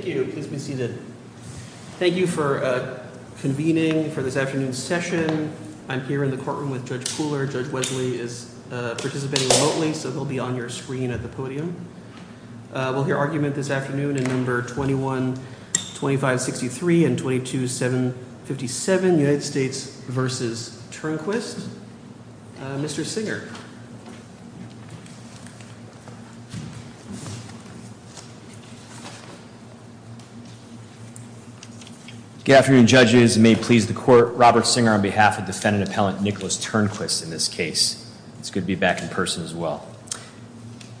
Thank you for convening for this afternoon's session. I'm here in the courtroom with Judge Pooler. Judge Wesley is participating remotely, so he'll be on your screen at the podium. We'll hear argument this afternoon in No. 21-2563 and 22-757, United States v. Turnquist. Mr. Singer. Good afternoon, judges. It may please the court, Robert Singer on behalf of defendant appellant Nicholas Turnquist in this case. It's good to be back in person as well.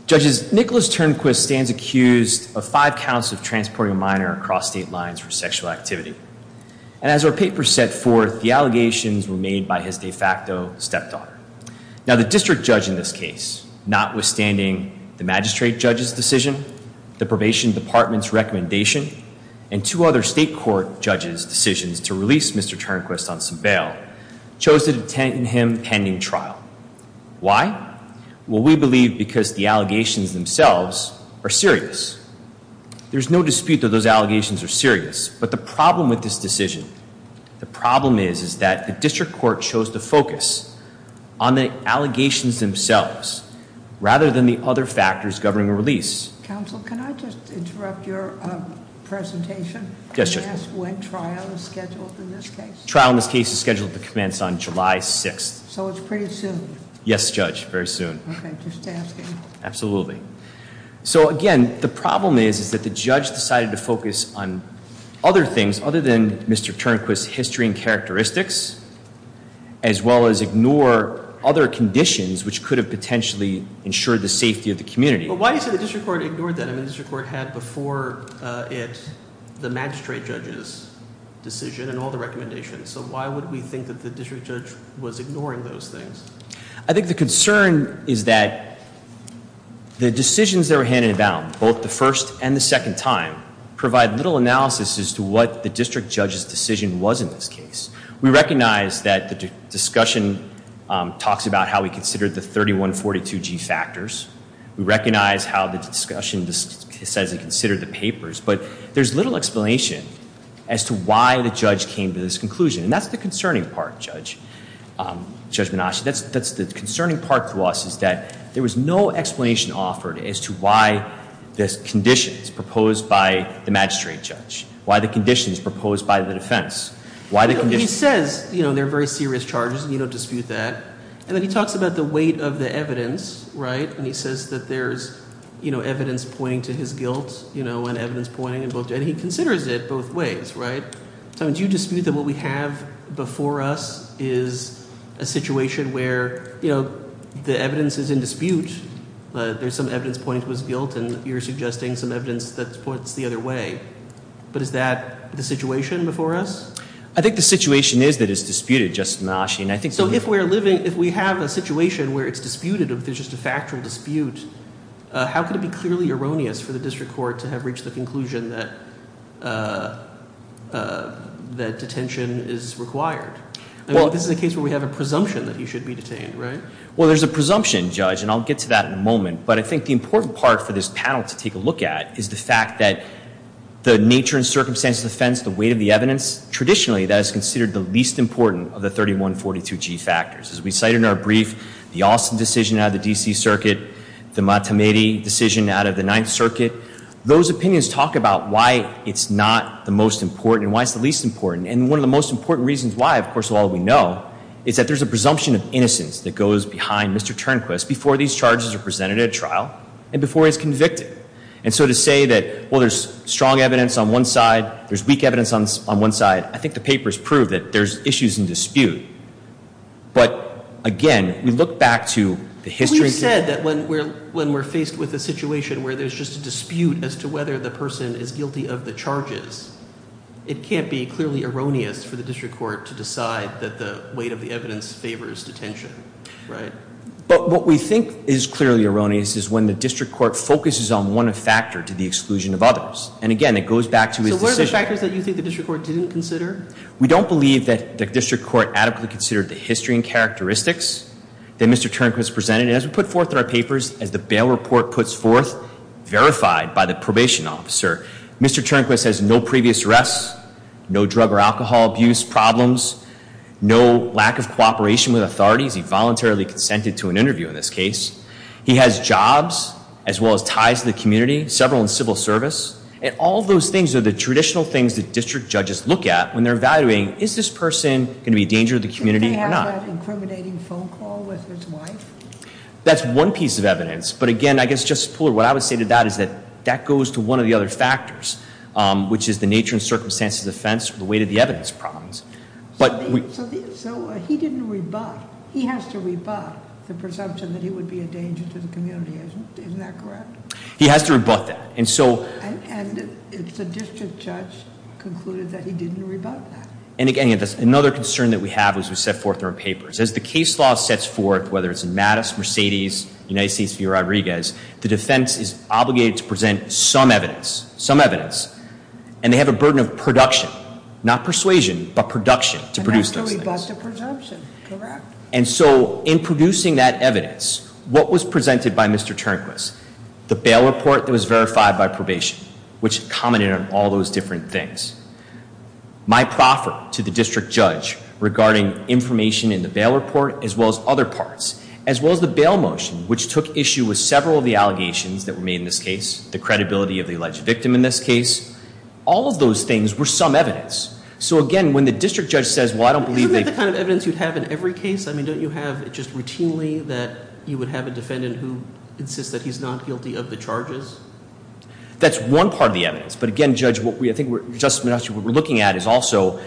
Judges, Nicholas Turnquist stands accused of five counts of transporting a minor across state lines for sexual activity. And as our paper set forth, the allegations were made by his de facto stepdaughter. Now, the district judge in this case, notwithstanding the magistrate judge's decision, the probation department's recommendation, and two other state court judges' decisions to release Mr. Turnquist on some bail, chose to detain him pending trial. Why? Well, we believe because the allegations themselves are serious. There's no dispute that those allegations are serious. But the problem with this decision, the problem is, is that the district court chose to focus on the allegations themselves rather than the other factors governing a release. Counsel, can I just interrupt your presentation and ask when trial is scheduled in this case? Trial in this case is scheduled to commence on July 6th. So it's pretty soon. Yes, Judge, very soon. Okay, just asking. Absolutely. So again, the problem is, is that the judge decided to focus on other things other than Mr. Turnquist's history and characteristics, as well as ignore other conditions which could have potentially ensured the safety of the community. But why do you say the district court ignored that? I mean, the district court had before it the magistrate judge's decision and all the recommendations. So why would we think that the district judge was ignoring those things? I think the concern is that the decisions that were handed about, both the first and the second time, provide little analysis as to what the district judge's decision was in this case. We recognize that the discussion talks about how we considered the 3142G factors. We recognize how the discussion says it considered the papers. But there's little explanation as to why the judge came to this conclusion. And that's the concerning part, Judge Menasche. That's the concerning part to us, is that there was no explanation offered as to why this condition is proposed by the magistrate judge, why the condition is proposed by the defense. He says there are very serious charges, and you don't dispute that. And then he talks about the weight of the evidence, right? And he says that there's evidence pointing to his guilt and evidence pointing to both. And he considers it both ways, right? So do you dispute that what we have before us is a situation where the evidence is in dispute? There's some evidence pointing to his guilt, and you're suggesting some evidence that points the other way. But is that the situation before us? I think the situation is that it's disputed, Justice Menasche. So if we have a situation where it's disputed, if there's just a factual dispute, how could it be clearly erroneous for the district court to have reached the conclusion that detention is required? I mean, this is a case where we have a presumption that he should be detained, right? Well, there's a presumption, Judge, and I'll get to that in a moment. But I think the important part for this panel to take a look at is the fact that the nature and circumstance of the offense, the weight of the evidence, traditionally that is considered the least important of the 3142G factors. As we cite in our brief, the Alston decision out of the D.C. Circuit, the Matamedi decision out of the Ninth Circuit, those opinions talk about why it's not the most important and why it's the least important. And one of the most important reasons why, of course, of all we know, is that there's a presumption of innocence that goes behind Mr. Turnquist before these charges are presented at trial and before he's convicted. And so to say that, well, there's strong evidence on one side, there's weak evidence on one side, I think the papers prove that there's issues in dispute. But, again, we look back to the history. You said that when we're faced with a situation where there's just a dispute as to whether the person is guilty of the charges, it can't be clearly erroneous for the district court to decide that the weight of the evidence favors detention, right? But what we think is clearly erroneous is when the district court focuses on one factor to the exclusion of others. And, again, it goes back to his decision. So what are the factors that you think the district court didn't consider? We don't believe that the district court adequately considered the history and characteristics that Mr. Turnquist presented. And as we put forth in our papers, as the bail report puts forth, verified by the probation officer, Mr. Turnquist has no previous arrests, no drug or alcohol abuse problems, no lack of cooperation with authorities. He voluntarily consented to an interview in this case. He has jobs as well as ties to the community, several in civil service. And all those things are the traditional things that district judges look at when they're evaluating, is this person going to be a danger to the community or not? Did they have an incriminating phone call with his wife? That's one piece of evidence. But, again, I guess, Justice Pooler, what I would say to that is that that goes to one of the other factors, which is the nature and circumstances of offense, the weight of the evidence problems. So he didn't rebut. He has to rebut the presumption that he would be a danger to the community. Isn't that correct? He has to rebut that. And so- And the district judge concluded that he didn't rebut that. And, again, another concern that we have is we set forth in our papers. As the case law sets forth, whether it's in Mattis, Mercedes, United States v. Rodriguez, the defense is obligated to present some evidence. Some evidence. And they have a burden of production. Not persuasion, but production to produce those things. And that's where we brought the presumption. Correct. And so in producing that evidence, what was presented by Mr. Turnquist? The bail report that was verified by probation, which commented on all those different things. My proffer to the district judge regarding information in the bail report, as well as other parts, as well as the bail motion, which took issue with several of the allegations that were made in this case, the credibility of the alleged victim in this case, all of those things were some evidence. So, again, when the district judge says, well, I don't believe they- Isn't that the kind of evidence you'd have in every case? I mean, don't you have just routinely that you would have a defendant who insists that he's not guilty of the charges? That's one part of the evidence. But, again, Judge, what we're looking at is also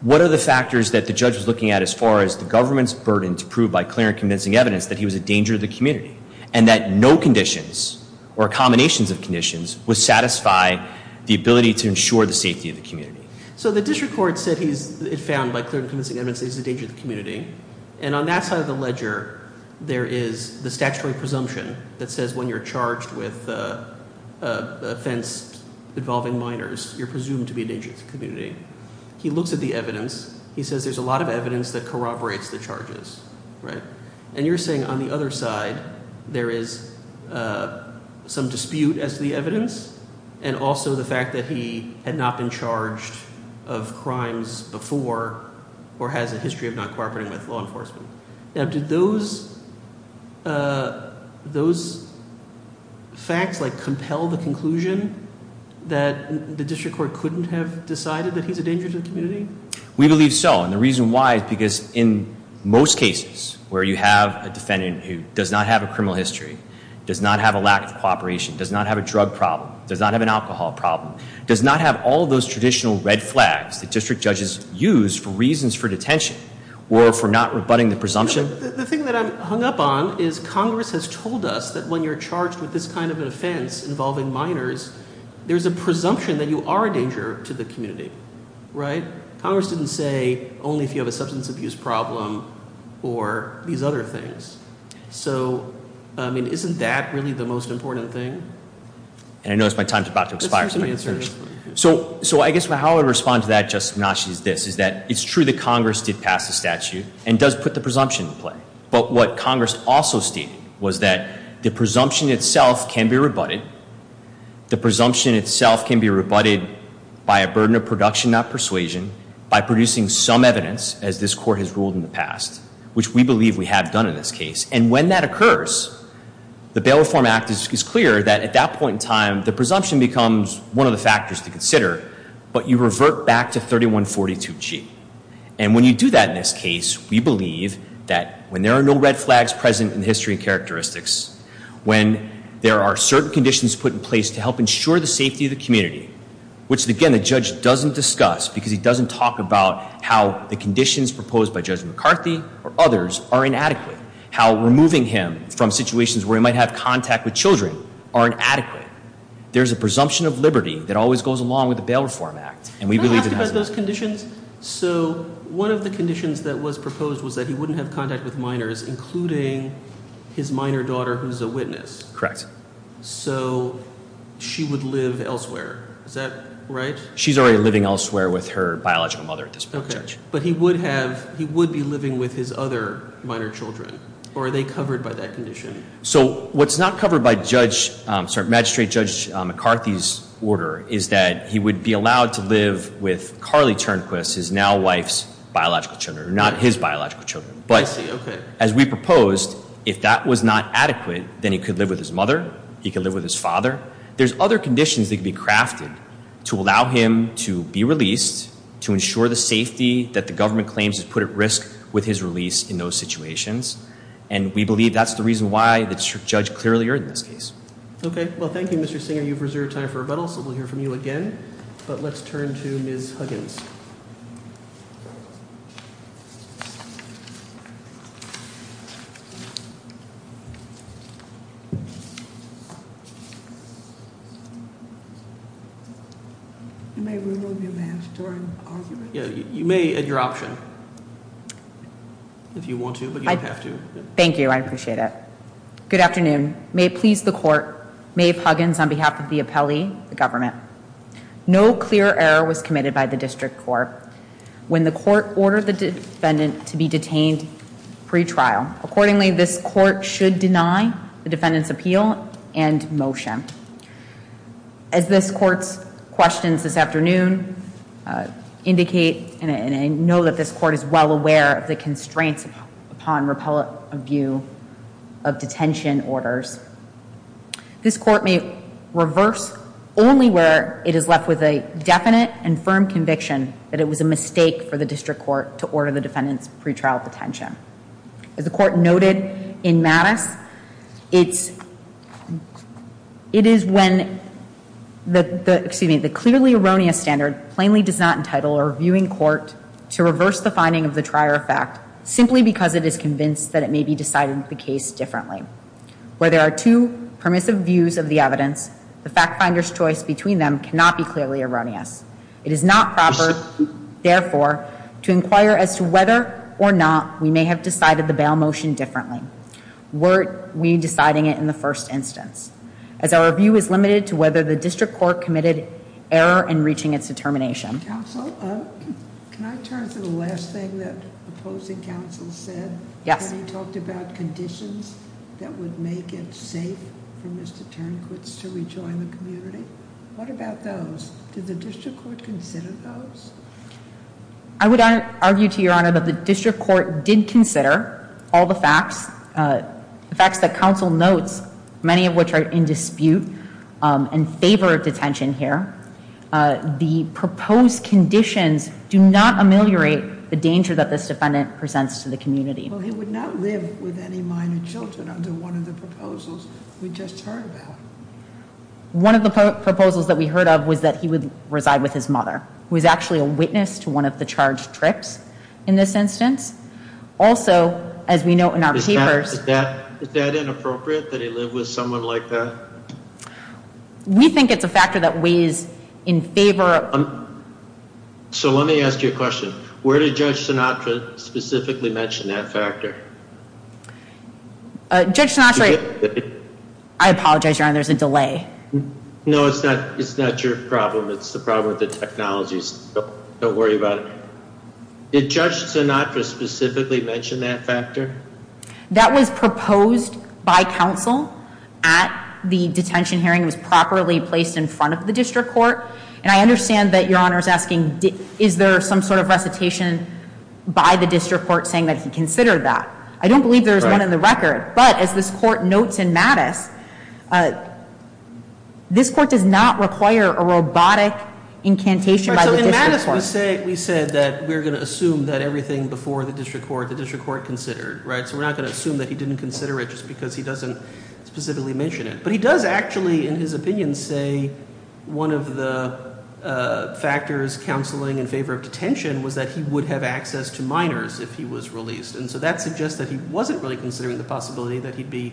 what are the factors that the judge was looking at as far as the government's burden to prove by clear and convincing evidence that he was a danger to the community and that no conditions or combinations of conditions would satisfy the ability to ensure the safety of the community. So the district court said he's found by clear and convincing evidence that he's a danger to the community. And on that side of the ledger, there is the statutory presumption that says when you're charged with offense involving minors, you're presumed to be a danger to the community. He looks at the evidence. He says there's a lot of evidence that corroborates the charges, right? And you're saying on the other side, there is some dispute as to the evidence and also the fact that he had not been charged of crimes before or has a history of not cooperating with law enforcement. Now, did those facts, like, compel the conclusion that the district court couldn't have decided that he's a danger to the community? We believe so, and the reason why is because in most cases where you have a defendant who does not have a criminal history, does not have a lack of cooperation, does not have a drug problem, does not have an alcohol problem, does not have all those traditional red flags that district judges use for reasons for detention or for not rebutting the presumption. The thing that I'm hung up on is Congress has told us that when you're charged with this kind of an offense involving minors, there's a presumption that you are a danger to the community, right? Congress didn't say only if you have a substance abuse problem or these other things. So, I mean, isn't that really the most important thing? And I notice my time is about to expire. So I guess how I would respond to that, Justice Mnuchin, is this, is that it's true that Congress did pass the statute and does put the presumption in play. But what Congress also stated was that the presumption itself can be rebutted. The presumption itself can be rebutted by a burden of production, not persuasion, by producing some evidence, as this Court has ruled in the past, which we believe we have done in this case. And when that occurs, the Bail Reform Act is clear that at that point in time, the presumption becomes one of the factors to consider, but you revert back to 3142G. And when you do that in this case, we believe that when there are no red flags present in the history and characteristics, when there are certain conditions put in place to help ensure the safety of the community, which, again, the judge doesn't discuss because he doesn't talk about how the conditions proposed by Judge McCarthy or others are inadequate, how removing him from situations where he might have contact with children are inadequate, there's a presumption of liberty that always goes along with the Bail Reform Act. Can I ask about those conditions? So one of the conditions that was proposed was that he wouldn't have contact with minors, including his minor daughter who's a witness. Correct. So she would live elsewhere. Is that right? She's already living elsewhere with her biological mother at this point, Judge. Okay. But he would have, he would be living with his other minor children, or are they covered by that condition? So what's not covered by Judge, sorry, Magistrate Judge McCarthy's order is that he would be allowed to live with Carly Turnquist, his now wife's biological children, not his biological children. But as we proposed, if that was not adequate, then he could live with his mother, he could live with his father. There's other conditions that could be crafted to allow him to be released, to ensure the safety that the government claims is put at risk with his release in those situations. And we believe that's the reason why the district judge clearly earned this case. Okay. Well, thank you, Mr. Singer. You've reserved time for rebuttal, so we'll hear from you again. But let's turn to Ms. Huggins. You may remove your mask during argument. You may at your option, if you want to. Thank you, I appreciate it. Good afternoon. May it please the court, Maeve Huggins on behalf of the appellee, the government. No clear error was committed by the district court. When the court ordered the defendant to be detained pre-trial, accordingly, this court should deny the defendant's appeal and motion. As this court's questions this afternoon indicate, and I know that this court is well aware of the constraints upon repellent view of detention orders, this court may reverse only where it is left with a definite and firm conviction that it was a mistake for the district court to order the defendant's pre-trial detention. As the court noted in Mattis, it is when the clearly erroneous standard plainly does not entitle a reviewing court to reverse the finding of the trier fact simply because it is convinced that it may be decided the case differently. Where there are two permissive views of the evidence, the fact finder's choice between them cannot be clearly erroneous. It is not proper, therefore, to inquire as to whether or not we may have decided the bail motion differently. Were we deciding it in the first instance? As our view is limited to whether the district court committed error in reaching its determination. Counsel, can I turn to the last thing that opposing counsel said? Yes. He talked about conditions that would make it safe for Mr. Turnquist to rejoin the community. What about those? Did the district court consider those? I would argue to your honor that the district court did consider all the facts. The facts that counsel notes, many of which are in dispute and favor detention here. The proposed conditions do not ameliorate the danger that this defendant presents to the community. Well, he would not live with any minor children under one of the proposals we just heard about. One of the proposals that we heard of was that he would reside with his mother, who is actually a witness to one of the charged trips in this instance. Also, as we note in our papers. Is that inappropriate that he live with someone like that? We think it's a factor that weighs in favor. So let me ask you a question. Where did Judge Sinatra specifically mention that factor? Judge Sinatra. I apologize, your honor, there's a delay. No, it's not your problem. It's the problem with the technologies. Don't worry about it. Did Judge Sinatra specifically mention that factor? That was proposed by counsel at the detention hearing. It was properly placed in front of the district court. And I understand that your honor is asking, is there some sort of recitation by the district court saying that he considered that? I don't believe there's one in the record. But as this court notes in Mattis, this court does not require a robotic incantation by the district court. So in Mattis we said that we're going to assume that everything before the district court, the district court considered. So we're not going to assume that he didn't consider it just because he doesn't specifically mention it. But he does actually, in his opinion, say one of the factors counseling in favor of detention was that he would have access to minors if he was released. And so that suggests that he wasn't really considering the possibility that he'd be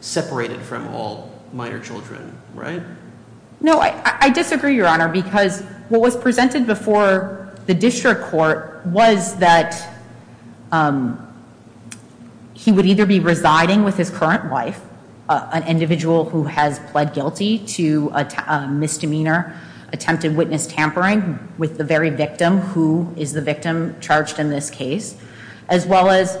separated from all minor children, right? No, I disagree, your honor. Because what was presented before the district court was that he would either be residing with his current wife, an individual who has pled guilty to a misdemeanor, attempted witness tampering with the very victim, who is the victim charged in this case, as well as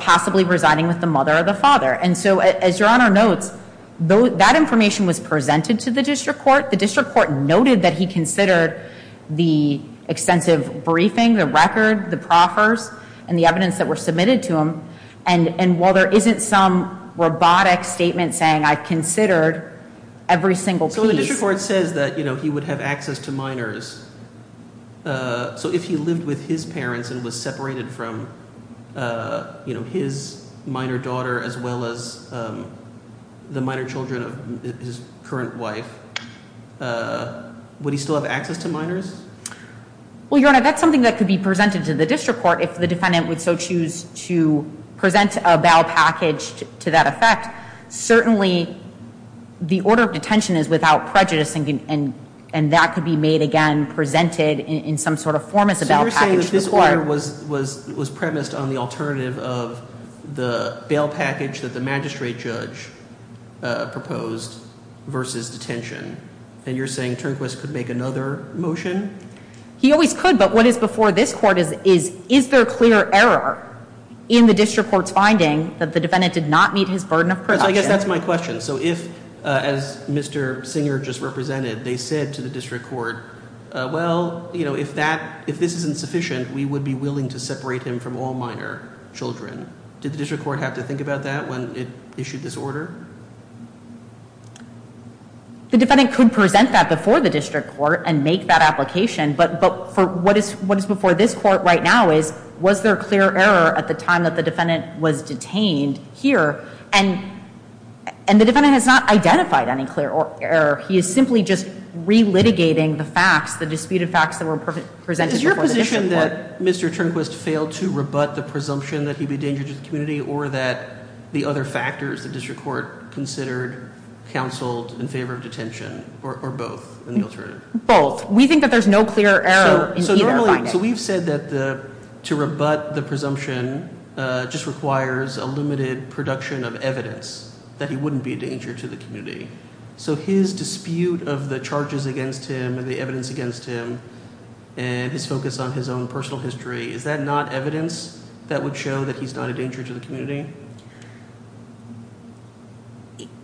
possibly residing with the mother or the father. And so as your honor notes, that information was presented to the district court. The district court noted that he considered the extensive briefing, the record, the proffers, and the evidence that were submitted to him. And while there isn't some robotic statement saying I've considered every single piece- So the district court says that he would have access to minors. So if he lived with his parents and was separated from his minor daughter as well as the minor children of his current wife, would he still have access to minors? Well, your honor, that's something that could be presented to the district court if the defendant would so choose to present a bail package to that effect. Certainly, the order of detention is without prejudice, and that could be made again, presented in some sort of form as a bail package to the court. So you're saying that this order was premised on the alternative of the bail package that the magistrate judge proposed versus detention. And you're saying Turnquist could make another motion? He always could, but what is before this court is, is there clear error in the district court's finding that the defendant did not meet his burden of production? Because I guess that's my question. So if, as Mr. Singer just represented, they said to the district court, well, you know, if this isn't sufficient, we would be willing to separate him from all minor children. Did the district court have to think about that when it issued this order? The defendant could present that before the district court and make that application. But what is before this court right now is, was there clear error at the time that the defendant was detained here? And the defendant has not identified any clear error. He is simply just relitigating the facts, the disputed facts that were presented before the district court. So you're saying that Mr. Turnquist failed to rebut the presumption that he'd be a danger to the community or that the other factors the district court considered counseled in favor of detention or both in the alternative? Both. We think that there's no clear error in either finding. So we've said that to rebut the presumption just requires a limited production of evidence that he wouldn't be a danger to the community. So his dispute of the charges against him and the evidence against him and his focus on his own personal history, is that not evidence that would show that he's not a danger to the community?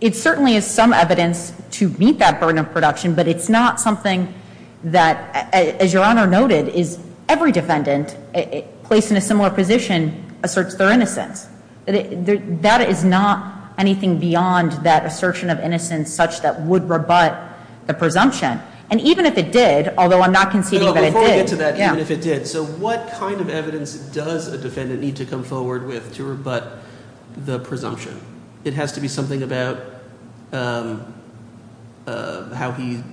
It certainly is some evidence to meet that burden of production. But it's not something that, as your honor noted, is every defendant placed in a similar position asserts their innocence. That is not anything beyond that assertion of innocence such that would rebut the presumption. And even if it did, although I'm not conceding that it did. Before we get to that, even if it did, so what kind of evidence does a defendant need to come forward with to rebut the presumption? It has to be something about how he,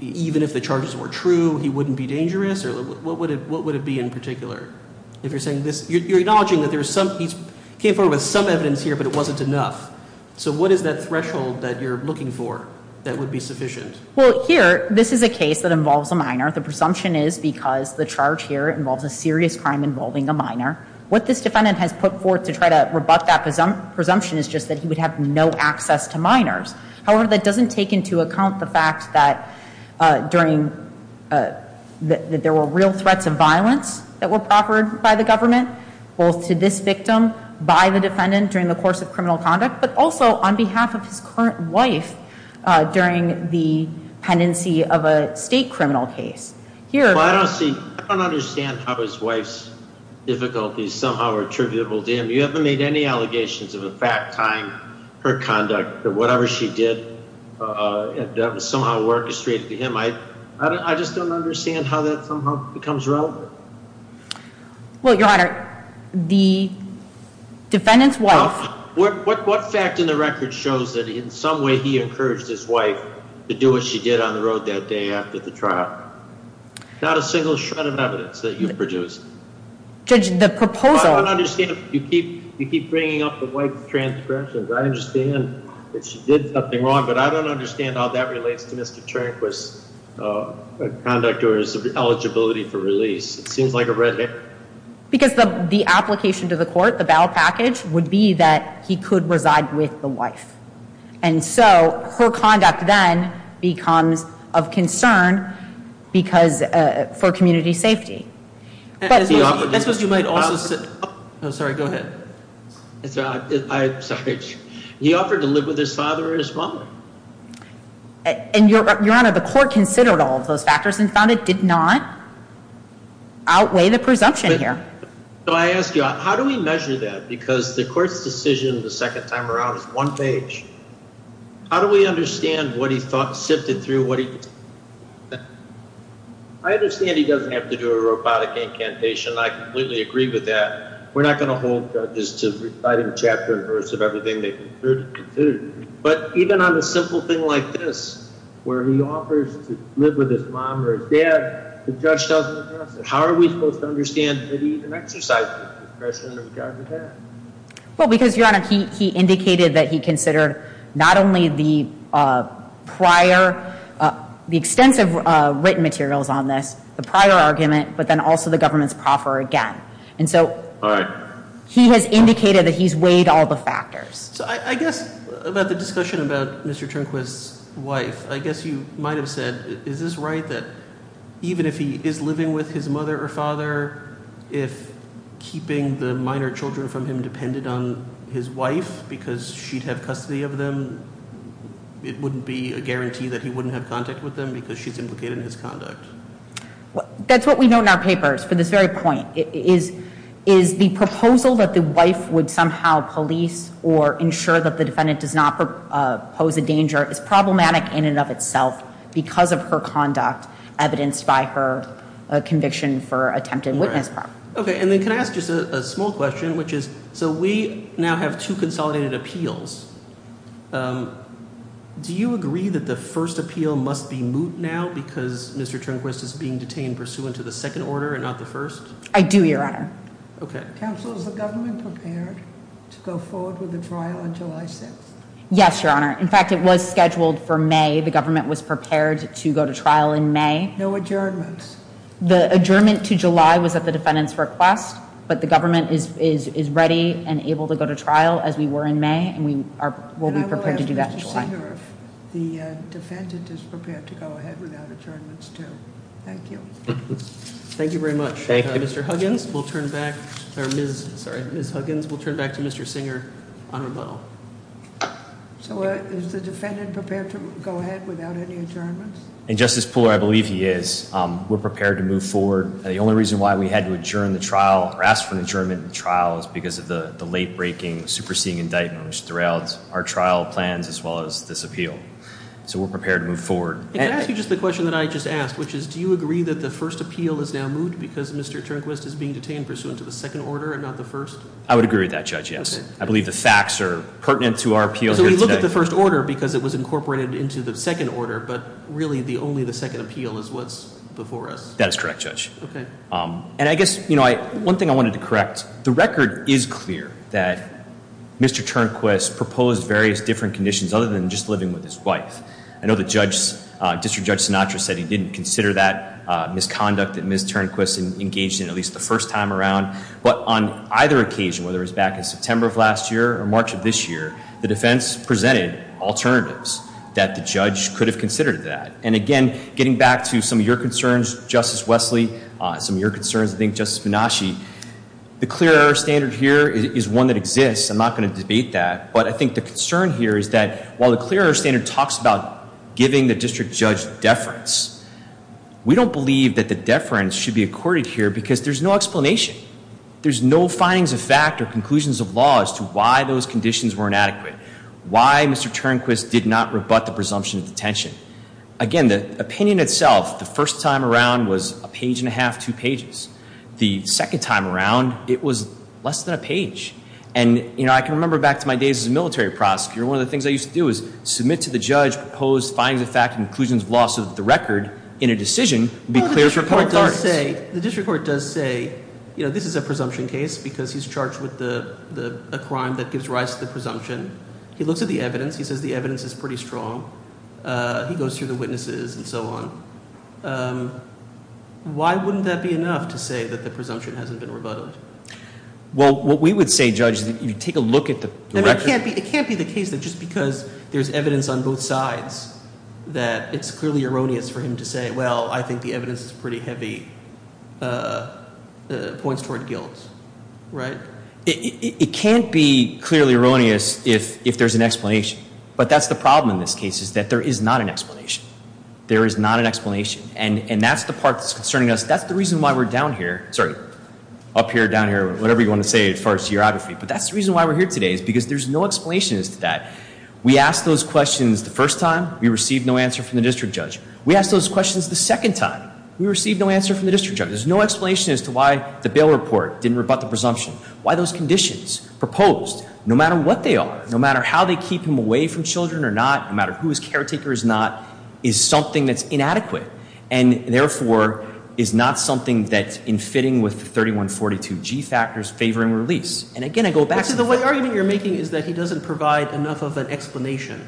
even if the charges were true, he wouldn't be dangerous? Or what would it be in particular? You're acknowledging that he came forward with some evidence here, but it wasn't enough. So what is that threshold that you're looking for that would be sufficient? Well, here, this is a case that involves a minor. The presumption is because the charge here involves a serious crime involving a minor. What this defendant has put forth to try to rebut that presumption is just that he would have no access to minors. However, that doesn't take into account the fact that there were real threats of violence that were proffered by the government, both to this victim by the defendant during the course of criminal conduct, but also on behalf of his current wife during the pendency of a state criminal case. Well, I don't see, I don't understand how his wife's difficulties somehow are attributable to him. You haven't made any allegations of a fact tying her conduct to whatever she did that was somehow orchestrated to him. I just don't understand how that somehow becomes relevant. Well, Your Honor, the defendant's wife— What fact in the record shows that in some way he encouraged his wife to do what she did on the road that day after the trial? Not a single shred of evidence that you've produced. Judge, the proposal— I don't understand if you keep bringing up the wife's transgressions. I understand that she did something wrong, but I don't understand how that relates to Mr. Trenquist's conduct or his eligibility for release. It seems like a red herring. Because the application to the court, the battle package, would be that he could reside with the wife. And so her conduct then becomes of concern for community safety. That's what you might also— I'm sorry, go ahead. I'm sorry. He offered to live with his father or his mother. And, Your Honor, the court considered all of those factors and found it did not outweigh the presumption here. So I ask you, how do we measure that? Because the court's decision the second time around is one page. How do we understand what he sifted through? I understand he doesn't have to do a robotic incantation. I completely agree with that. We're not going to hold judges to reciting a chapter and verse of everything they considered. But even on a simple thing like this, where he offers to live with his mom or his dad, the judge doesn't address it. How are we supposed to understand that he even exercised that discretion in regard to that? Well, because, Your Honor, he indicated that he considered not only the prior—the extensive written materials on this, the prior argument, but then also the government's proffer again. And so he has indicated that he's weighed all the factors. So I guess about the discussion about Mr. Turnquist's wife, I guess you might have said, is this right, that even if he is living with his mother or father, if keeping the minor children from him depended on his wife because she'd have custody of them, it wouldn't be a guarantee that he wouldn't have contact with them because she's implicated in his conduct? That's what we know in our papers for this very point, is the proposal that the wife would somehow police or ensure that the defendant does not pose a danger is problematic in and of itself because of her conduct evidenced by her conviction for attempted witness. Okay. And then can I ask just a small question, which is, so we now have two consolidated appeals. Do you agree that the first appeal must be moot now because Mr. Turnquist is being detained pursuant to the second order and not the first? I do, Your Honor. Okay. Counsel, is the government prepared to go forward with the trial on July 6th? Yes, Your Honor. In fact, it was scheduled for May. The government was prepared to go to trial in May. No adjournments? The adjournment to July was at the defendant's request, but the government is ready and able to go to trial as we were in May, and we will be prepared to do that in July. And I will ask Mr. Singer if the defendant is prepared to go ahead without adjournments too. Thank you. Thank you very much. Thank you. Mr. Huggins will turn back, or Ms. Huggins will turn back to Mr. Singer on rebuttal. So is the defendant prepared to go ahead without any adjournments? And, Justice Pooler, I believe he is. We're prepared to move forward. The only reason why we had to adjourn the trial or ask for an adjournment in the trial is because of the late-breaking, superseding indictment which derails our trial plans as well as this appeal. So we're prepared to move forward. Can I ask you just the question that I just asked, which is do you agree that the first appeal is now moved because Mr. Turnquist is being detained pursuant to the second order and not the first? I would agree with that, Judge, yes. I believe the facts are pertinent to our appeal here today. So we look at the first order because it was incorporated into the second order, but really only the second appeal is what's before us. That is correct, Judge. Okay. And I guess, you know, one thing I wanted to correct, the record is clear that Mr. Turnquist proposed various different conditions other than just living with his wife. I know District Judge Sinatra said he didn't consider that misconduct that Ms. Turnquist engaged in at least the first time around. But on either occasion, whether it was back in September of last year or March of this year, the defense presented alternatives that the judge could have considered that. And, again, getting back to some of your concerns, Justice Wesley, some of your concerns, I think, Justice Minashi, the clear error standard here is one that exists. I'm not going to debate that. But I think the concern here is that while the clear error standard talks about giving the district judge deference, we don't believe that the deference should be accorded here because there's no explanation. There's no findings of fact or conclusions of law as to why those conditions were inadequate, why Mr. Turnquist did not rebut the presumption of detention. Again, the opinion itself, the first time around was a page and a half, two pages. And, you know, I can remember back to my days as a military prosecutor. One of the things I used to do was submit to the judge proposed findings of fact and conclusions of law so that the record in a decision would be clear for a couple of parties. The district court does say, you know, this is a presumption case because he's charged with a crime that gives rise to the presumption. He looks at the evidence. He says the evidence is pretty strong. He goes through the witnesses and so on. Why wouldn't that be enough to say that the presumption hasn't been rebutted? Well, what we would say, Judge, is that you take a look at the record. It can't be the case that just because there's evidence on both sides that it's clearly erroneous for him to say, well, I think the evidence is pretty heavy, points toward guilt, right? It can't be clearly erroneous if there's an explanation. But that's the problem in this case is that there is not an explanation. There is not an explanation. And that's the part that's concerning us. That's the reason why we're down here. Sorry, up here, down here, whatever you want to say as far as geography. But that's the reason why we're here today is because there's no explanation as to that. We asked those questions the first time. We received no answer from the district judge. We asked those questions the second time. We received no answer from the district judge. There's no explanation as to why the bail report didn't rebut the presumption. Why those conditions proposed, no matter what they are, no matter how they keep him away from children or not, no matter who his caretaker is not, is something that's inadequate and, therefore, is not something that, in fitting with the 3142G factors, favoring release. And, again, I go back to the point. So the argument you're making is that he doesn't provide enough of an explanation.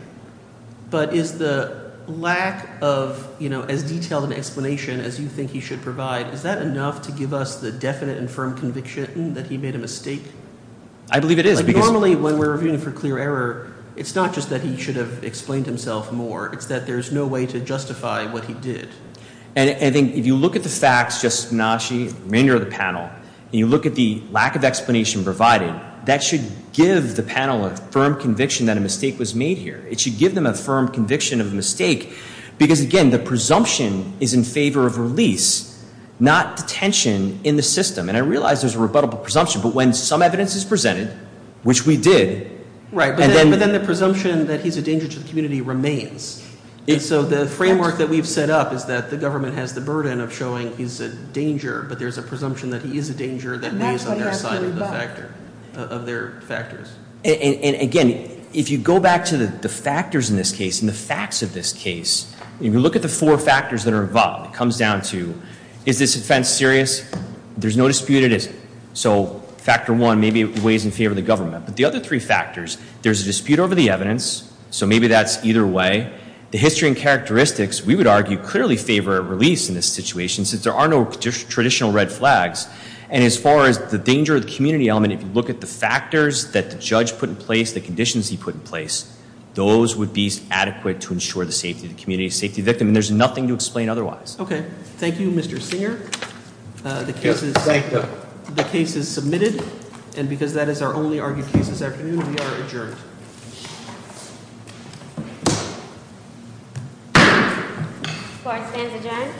But is the lack of, you know, as detailed an explanation as you think he should provide, is that enough to give us the definite and firm conviction that he made a mistake? I believe it is. Normally, when we're reviewing for clear error, it's not just that he should have explained himself more. It's that there's no way to justify what he did. And I think if you look at the facts, just Nashi, the remainder of the panel, and you look at the lack of explanation provided, that should give the panel a firm conviction that a mistake was made here. It should give them a firm conviction of the mistake because, again, the presumption is in favor of release, not detention in the system. And I realize there's a rebuttable presumption. But when some evidence is presented, which we did. Right. But then the presumption that he's a danger to the community remains. And so the framework that we've set up is that the government has the burden of showing he's a danger, but there's a presumption that he is a danger that lays on their side of the factor, of their factors. And, again, if you go back to the factors in this case and the facts of this case, if you look at the four factors that are involved, it comes down to, is this offense serious? There's no dispute it isn't. So factor one, maybe it weighs in favor of the government. But the other three factors, there's a dispute over the evidence. So maybe that's either way. The history and characteristics, we would argue, clearly favor release in this situation, since there are no traditional red flags. And as far as the danger of the community element, if you look at the factors that the judge put in place, the conditions he put in place, those would be adequate to ensure the safety of the community, safety of the victim. And there's nothing to explain otherwise. Okay. Thank you, Mr. Singer. The case is submitted. And because that is our only argued case this afternoon, we are adjourned. Court is adjourned.